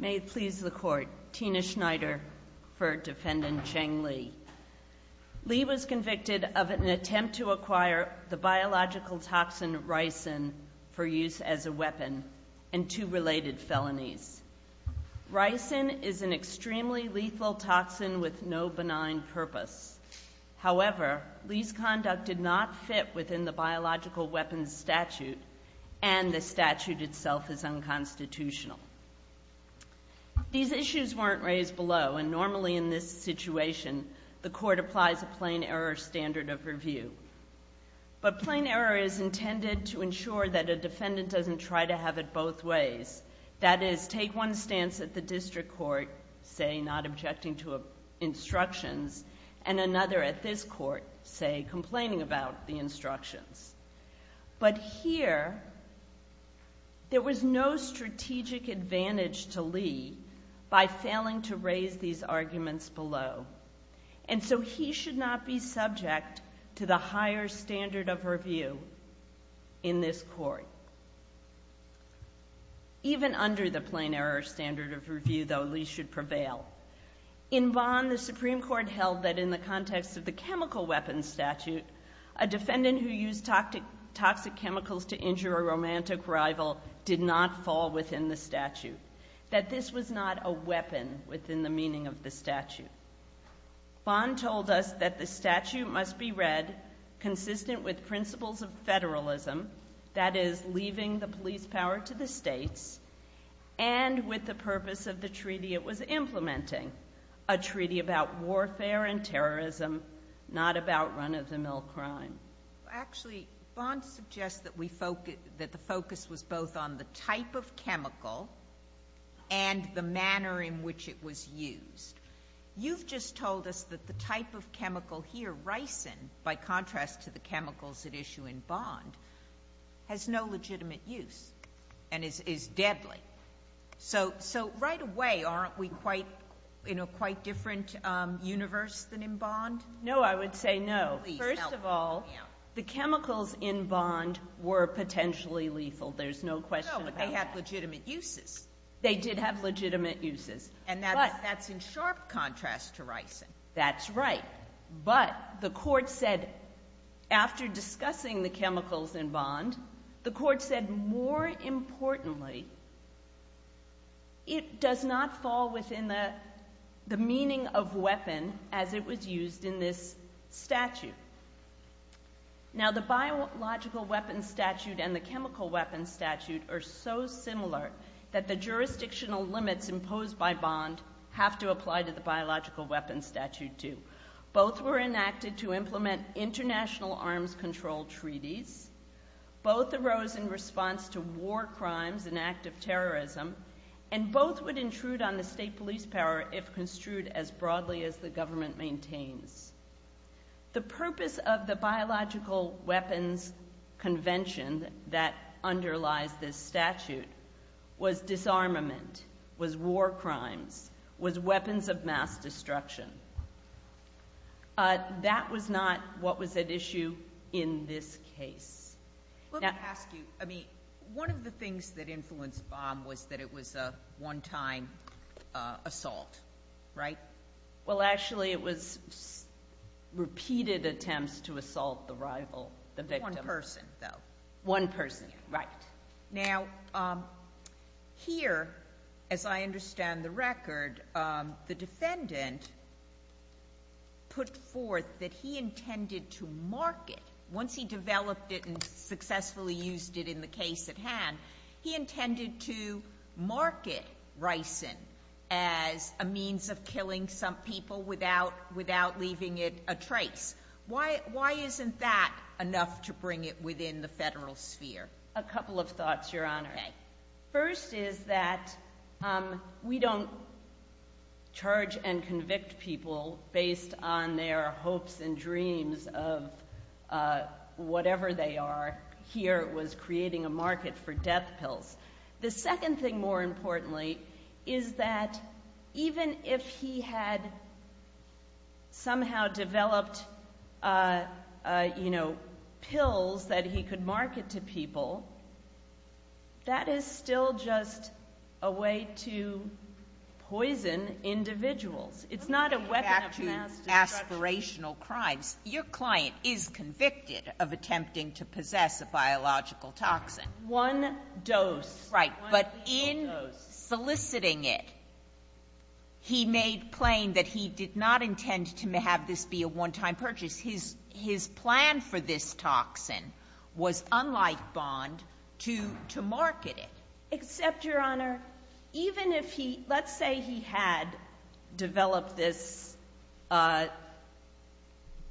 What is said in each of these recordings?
May it please the court, Tina Schneider for Defendant Cheng Li. Li was convicted of an attempt to acquire the biological toxin ricin for use as a weapon and two related felonies. Ricin is an extremely lethal toxin with no benign purpose. However, Li's conduct did not fit within the biological weapons statute, and the statute itself is unconstitutional. These issues weren't raised below and normally in this situation, the court applies a plain error standard of review. But plain error is intended to ensure that a defendant doesn't try to have it both ways. That is, take one stance at the district court, say, not objecting to instructions, and another at this court, say, complaining about the instructions. But here, there was no strategic advantage to Li by failing to raise these arguments below, and so he should not be subject to the higher standard of review in this court. Even under the plain error standard of review, though, Li should prevail. In Vaughn, the Supreme Court held that in the context of the chemical weapons statute, a defendant who used toxic chemicals to injure a romantic rival did not fall within the statute. That this was not a weapon within the meaning of the statute. Vaughn told us that the statute must be read consistent with principles of federalism, that is, leaving the police power to the states, and with the purpose of the treaty it was implementing, a treaty about warfare and non-of-the-mill crime. Actually, Vaughn suggests that we focus, that the focus was both on the type of chemical and the manner in which it was used. You've just told us that the type of chemical here, ricin, by contrast to the chemicals at issue in Vaughn, has no legitimate use and is deadly. So right away, aren't we in a quite different universe than in Vaughn? No, I would say no. First of all, the chemicals in Vaughn were potentially lethal. There's no question about that. No, but they have legitimate uses. They did have legitimate uses. And that's in sharp contrast to ricin. That's right. But the court said, after discussing the chemicals in Vaughn, the court said, more importantly, it does not fall within the meaning of weapon as it was used in this statute. Now, the biological weapons statute and the chemical weapons statute are so similar that the jurisdictional limits imposed by Vaughn have to apply to the biological weapons statute too. Both were enacted to implement international arms control treaties. Both arose in response to war crimes and active terrorism. And both would intrude on the state police power if construed as broadly as the government maintains. The purpose of the biological weapons convention that underlies this statute was disarmament, was war crimes, was weapons of mass destruction. That was not what was at issue in this case. Let me ask you, I mean, one of the things that influenced Vaughn was that it was a one-time assault, right? Well, actually, it was repeated attempts to assault the rival, the victim. One person, though. One person, right. Now, here, as I understand the record, the defendant put forth that he intended to market, once he developed it and successfully used it in the case at hand, he intended to market ricin as a means of killing some people without leaving it a trace. Why isn't that enough to bring it within the federal sphere? A couple of thoughts, Your Honor. First is that we don't charge and convict people based on their hopes and dreams of whatever they are. Here, it was creating a market for death pills. The second thing, more importantly, is that even if he had somehow developed, you know, pills that he could market to people, that is still just a way to poison individuals. It's not a weapon of mass destruction. When we get back to aspirational crimes, your client is convicted of attempting to possess a biological toxin. One dose. Right. But in soliciting it, he made plain that he did not intend to have this be a one-time purchase. His plan for this toxin was, unlike Vaughn, to market it. Except, Your Honor, even if he, let's say he had developed this,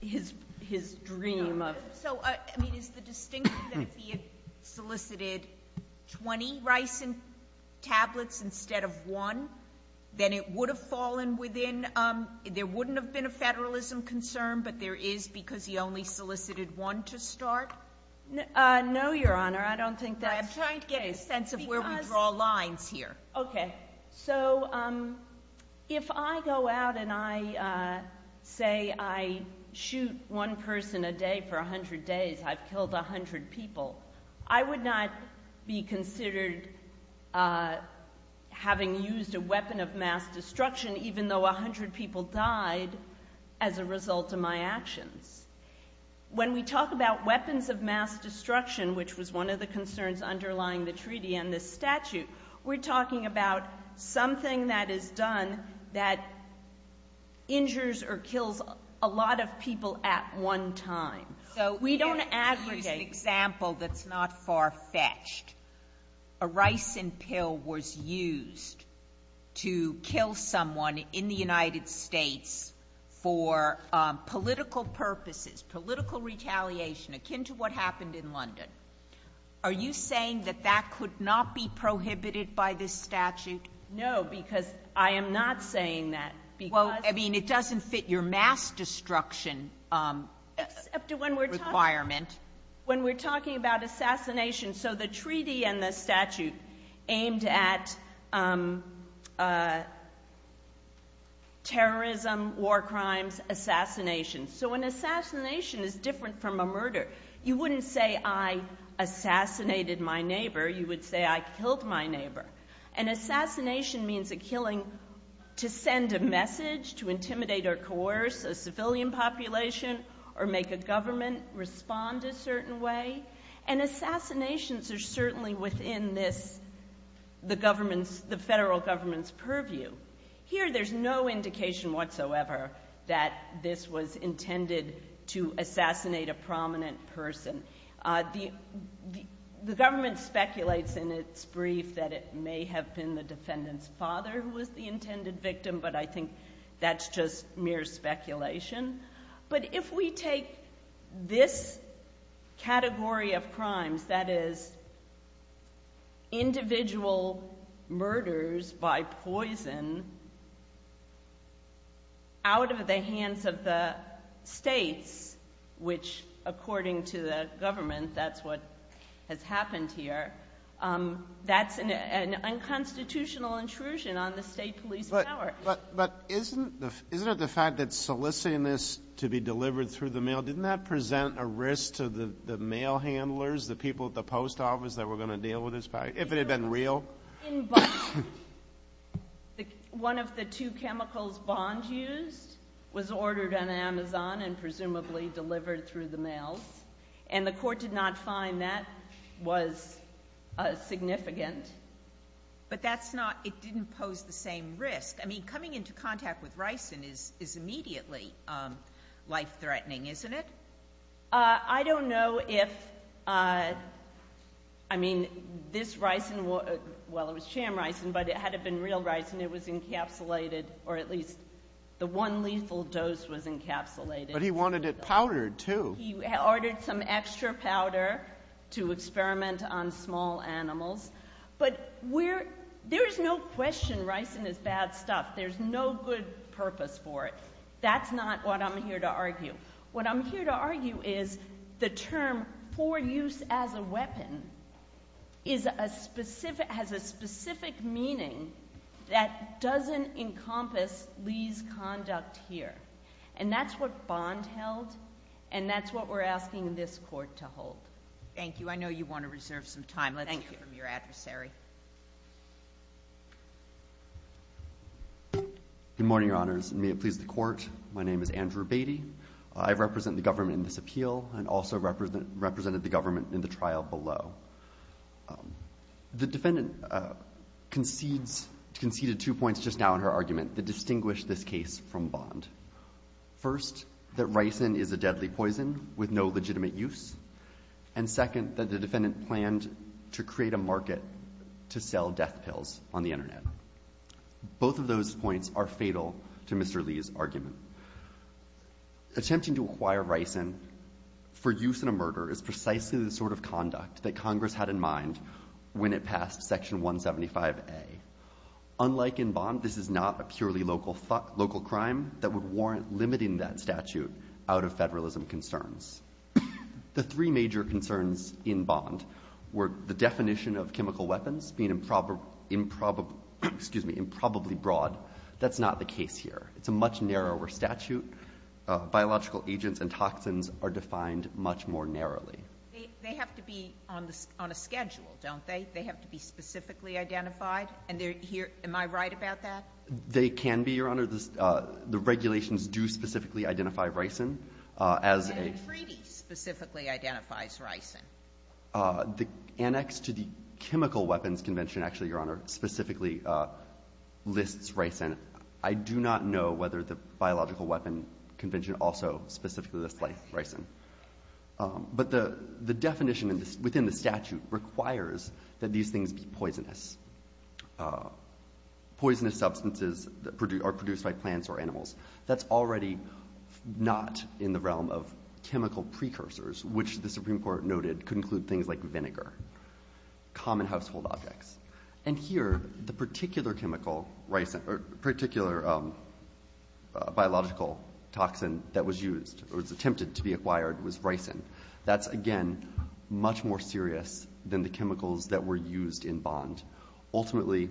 his dream of. So, I mean, is the distinction that if he had solicited 20 ricin tablets instead of one, then it would have fallen within, there wouldn't have been a federalism concern, but there is because he only solicited one to start? No, Your Honor, I don't think that's the case. That's where we draw lines here. Okay. So, if I go out and I say I shoot one person a day for 100 days, I've killed 100 people, I would not be considered having used a weapon of mass destruction even though 100 people died as a result of my actions. When we talk about weapons of mass destruction, which was one of the concerns underlying the treaty and this statute, we're talking about something that is done that injures or kills a lot of people at one time. So, we don't aggregate. Let me use an example that's not far-fetched. A ricin pill was used to kill someone in the United States for political purposes, political retaliation akin to what happened in London. Are you saying that that could not be prohibited by this statute? No, because I am not saying that because... Well, I mean, it doesn't fit your mass destruction requirement. When we're talking about assassination, so the treaty and the statute aimed at terrorism, war crimes, assassination. So, an assassination is different from a murder. You wouldn't say, I assassinated my neighbor. You would say, I killed my neighbor. An assassination means a killing to send a message, to intimidate or coerce a civilian population or make a government respond a certain way. And assassinations are certainly within this, the federal government's purview. Here, there's no indication whatsoever that this was intended to assassinate a prominent person. The government speculates in its brief that it may have been the defendant's father who was the intended victim, but I think that's just mere speculation. But if we take this category of crimes, that is, individual murders by poison out of the hands of the states, which according to the government, that's what has happened here, that's an unconstitutional intrusion on the state police power. But isn't it the fact that soliciting this to be delivered through the mail, didn't that present a risk to the mail handlers, the people at the post office that were going to deal with this, if it had been real? In Boston, one of the two chemicals Bond used was ordered on Amazon and presumably delivered through the mails. And the court did not find that was significant. But that's not, it didn't pose the same risk. I mean, coming into contact with ricin is immediately life-threatening, isn't it? I don't know if, I mean, this ricin, well, it was sham ricin, but it had to have been real ricin, it was encapsulated or at least the one lethal dose was encapsulated. But he wanted it powdered, too. He ordered some extra powder to experiment on small animals. But there is no question ricin is bad stuff. There's no good purpose for it. That's not what I'm here to argue. What I'm here to argue is the term for use as a weapon is a specific, has a specific meaning that doesn't encompass Lee's conduct here. And that's what Bond held, and that's what we're asking this court to hold. Thank you. I know you want to reserve some time. Let's hear from your adversary. Good morning, Your Honors, and may it please the court. My name is Andrew Beatty. I represent the government in this appeal and also represented the government in the trial below. The defendant conceded two points just now in her argument that distinguish this case from Bond. First, that ricin is a deadly poison with no legitimate use. And second, that the defendant planned to create a market to sell death pills on the internet. Both of those points are fatal to Mr. Lee's argument. Attempting to acquire ricin for use in a murder is precisely the sort of conduct that Congress had in mind when it passed Section 175A. Unlike in Bond, this is not a purely local crime that would warrant limiting that statute out of federalism concerns. The three major concerns in Bond were the definition of chemical weapons being improbably broad. That's not the case here. It's a much narrower statute. Biological agents and toxins are defined much more narrowly. They have to be on a schedule, don't they? They have to be specifically identified? And am I right about that? They can be, Your Honor. The regulations do specifically identify ricin as a And Freedy specifically identifies ricin. The annex to the chemical weapons convention, actually, Your Honor, specifically lists ricin. I do not know whether the biological weapon convention also specifically lists ricin. But the definition within the statute requires that these things be poisonous. Poisonous substances are produced by plants or animals. That's already not in the realm of chemical precursors, which the Supreme Court noted could include things like vinegar, common household objects. And here, the particular chemical, particular biological toxin that was used or was attempted to be acquired was ricin. That's, again, much more serious than the chemicals that were used in Bond. Ultimately,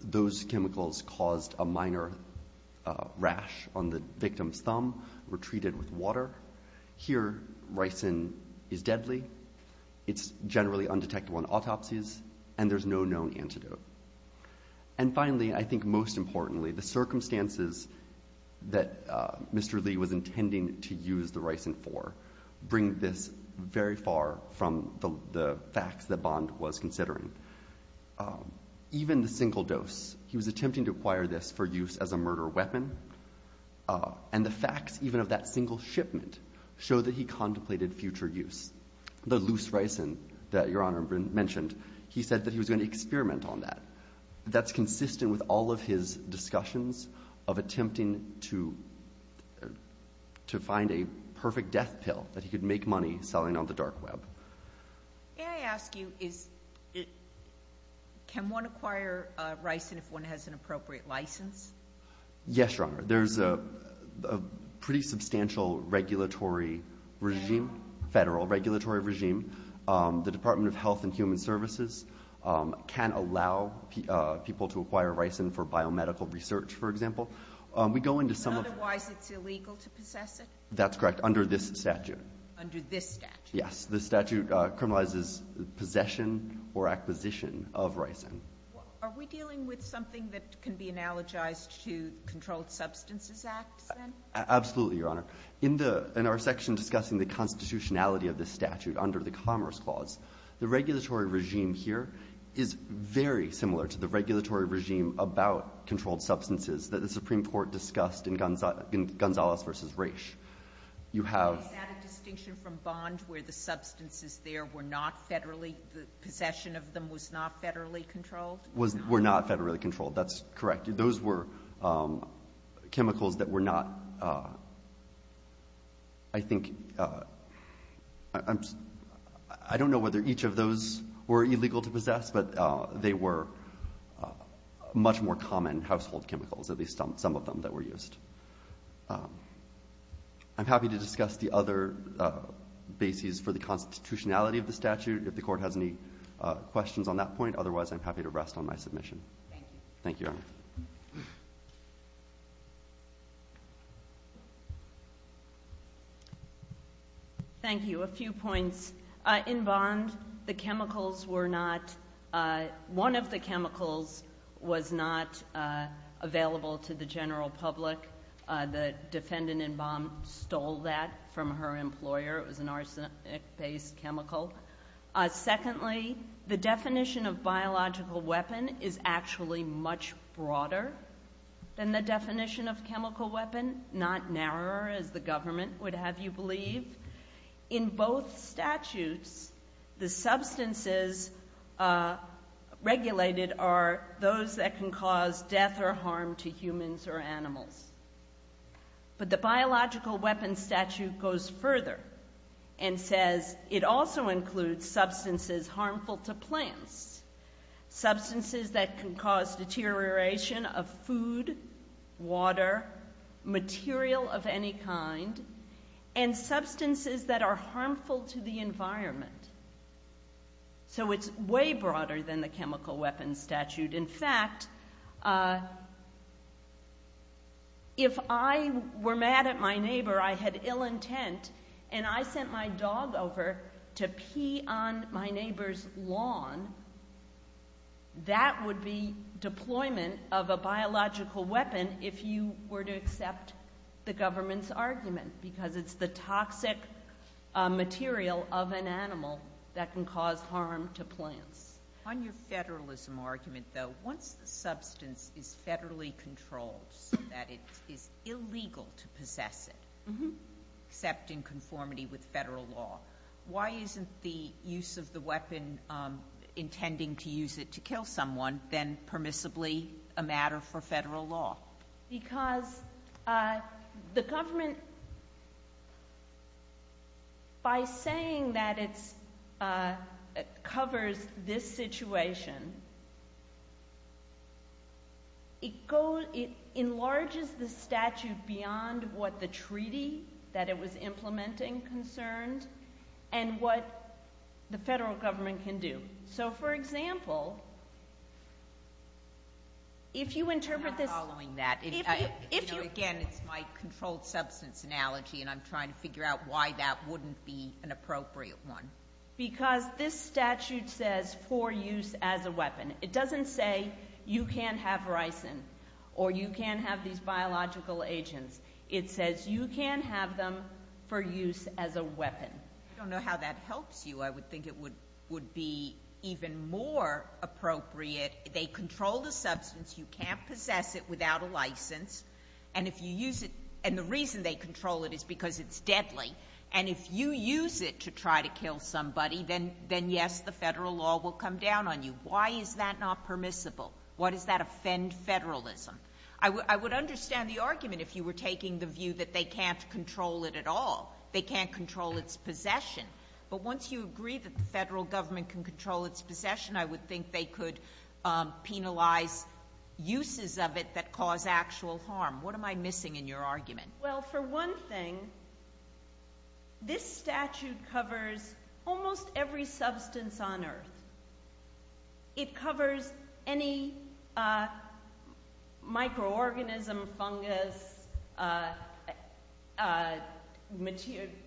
those chemicals caused a minor rash on the victim's thumb, were treated with water. Here, ricin is deadly. It's generally undetectable in autopsies. And there's no known antidote. And finally, I think most importantly, the circumstances that Mr. Lee was intending to use the ricin for bring this very far from the facts that Bond was considering. Even the single dose, he was attempting to acquire this for use as a murder weapon. And the facts, even of that single shipment, show that he contemplated future use. The loose ricin that Your Honour mentioned, he said that he was going to experiment on that. That's consistent with all of his discussions of attempting to find a perfect death pill that he could make money selling on the dark web. May I ask you, can one acquire ricin if one has an appropriate licence? Yes, Your Honour. There's a pretty substantial regulatory regime, federal regulatory regime. The Department of Health and Human Services can allow people to acquire ricin for biomedical research, for example. We go into some of... But otherwise it's illegal to possess it? That's correct, under this statute. Under this statute? Yes, this statute criminalizes possession or acquisition of ricin. Are we dealing with something that can be analogized to Controlled Substances Act, then? Absolutely, Your Honour. In our section discussing the constitutionality of this statute under the Commerce Clause, the regulatory regime here is very similar to the regulatory regime about controlled substances that the Supreme Court discussed in Gonzales v. Raich. Is that a distinction from Bond where the substances there were not federally... ...were not federally controlled. That's correct. Those were chemicals that were not... I think... I don't know whether each of those were illegal to possess, but they were much more common household chemicals, at least some of them that were used. I'm happy to discuss the other bases for the constitutionality of the statute if the Court has any questions on that point. Otherwise, I'm happy to rest on my submission. Thank you. Thank you, Your Honour. Thank you. A few points. In Bond, the chemicals were not... One of the chemicals was not available to the general public. The defendant in Bond stole that from her employer. It was an arsenic-based chemical. Secondly, the definition of biological weapon is actually much broader than the definition of chemical weapon. Not narrower, as the government would have you believe. In both statutes, the substances regulated are those that can cause death or harm to humans or animals. But the biological weapon statute goes further and says it also includes substances harmful to plants, substances that can cause deterioration of food, water, material of any kind, and substances that are harmful to the environment. So it's way broader than the chemical weapon statute. In fact... ..if I were mad at my neighbour, I had ill intent, and I sent my dog over to pee on my neighbour's lawn, that would be deployment of a biological weapon if you were to accept the government's argument, because it's the toxic material of an animal that can cause harm to plants. On your federalism argument, though, once the substance is federally controlled, so that it is illegal to possess it... Mm-hm. ..except in conformity with federal law, why isn't the use of the weapon, intending to use it to kill someone, then permissibly a matter for federal law? Because the government... ..by saying that it's... ..covers this situation... ..it enlarges the statute beyond what the treaty, that it was implementing, concerned, and what the federal government can do. So, for example... ..if you interpret this... I'm not following that. If you... You know, again, it's my controlled substance analogy, and I'm trying to figure out why that wouldn't be an appropriate one. Because this statute says, for use as a weapon. It doesn't say, you can't have ricin, or you can't have these biological agents. It says, you can have them for use as a weapon. I don't know how that helps you. I would think it would be even more appropriate. They control the substance. You can't possess it without a licence. And if you use it... And the reason they control it is because it's deadly. And if you use it to try to kill somebody, then, yes, the federal law will come down on you. Why is that not permissible? Why does that offend federalism? I would understand the argument if you were taking the view that they can't control it at all. They can't control its possession. But once you agree that the federal government can control its possession, I would think they could penalise uses of it that cause actual harm. What am I missing in your argument? Well, for one thing, this statute covers almost every substance on earth. It covers any microorganism, fungus,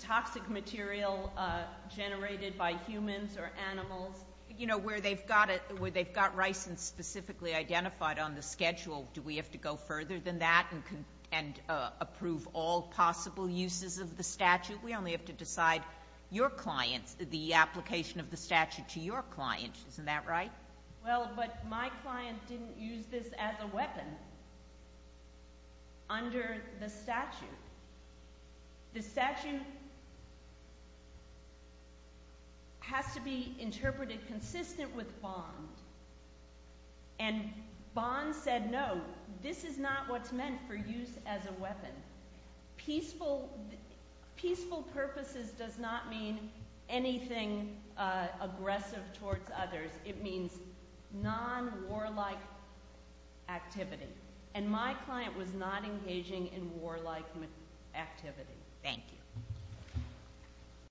toxic material generated by humans or animals. You know, where they've got licence specifically identified on the schedule, do we have to go further than that and approve all possible uses of the statute? We only have to decide your clients, the application of the statute to your client. Isn't that right? Well, but my client didn't use this as a weapon under the statute. The statute has to be interpreted consistent with Bond. And Bond said, no, this is not what's meant for use as a weapon. Peaceful purposes does not mean anything aggressive towards others. It means non-warlike activity. And my client was not engaging in warlike activity. Thank you.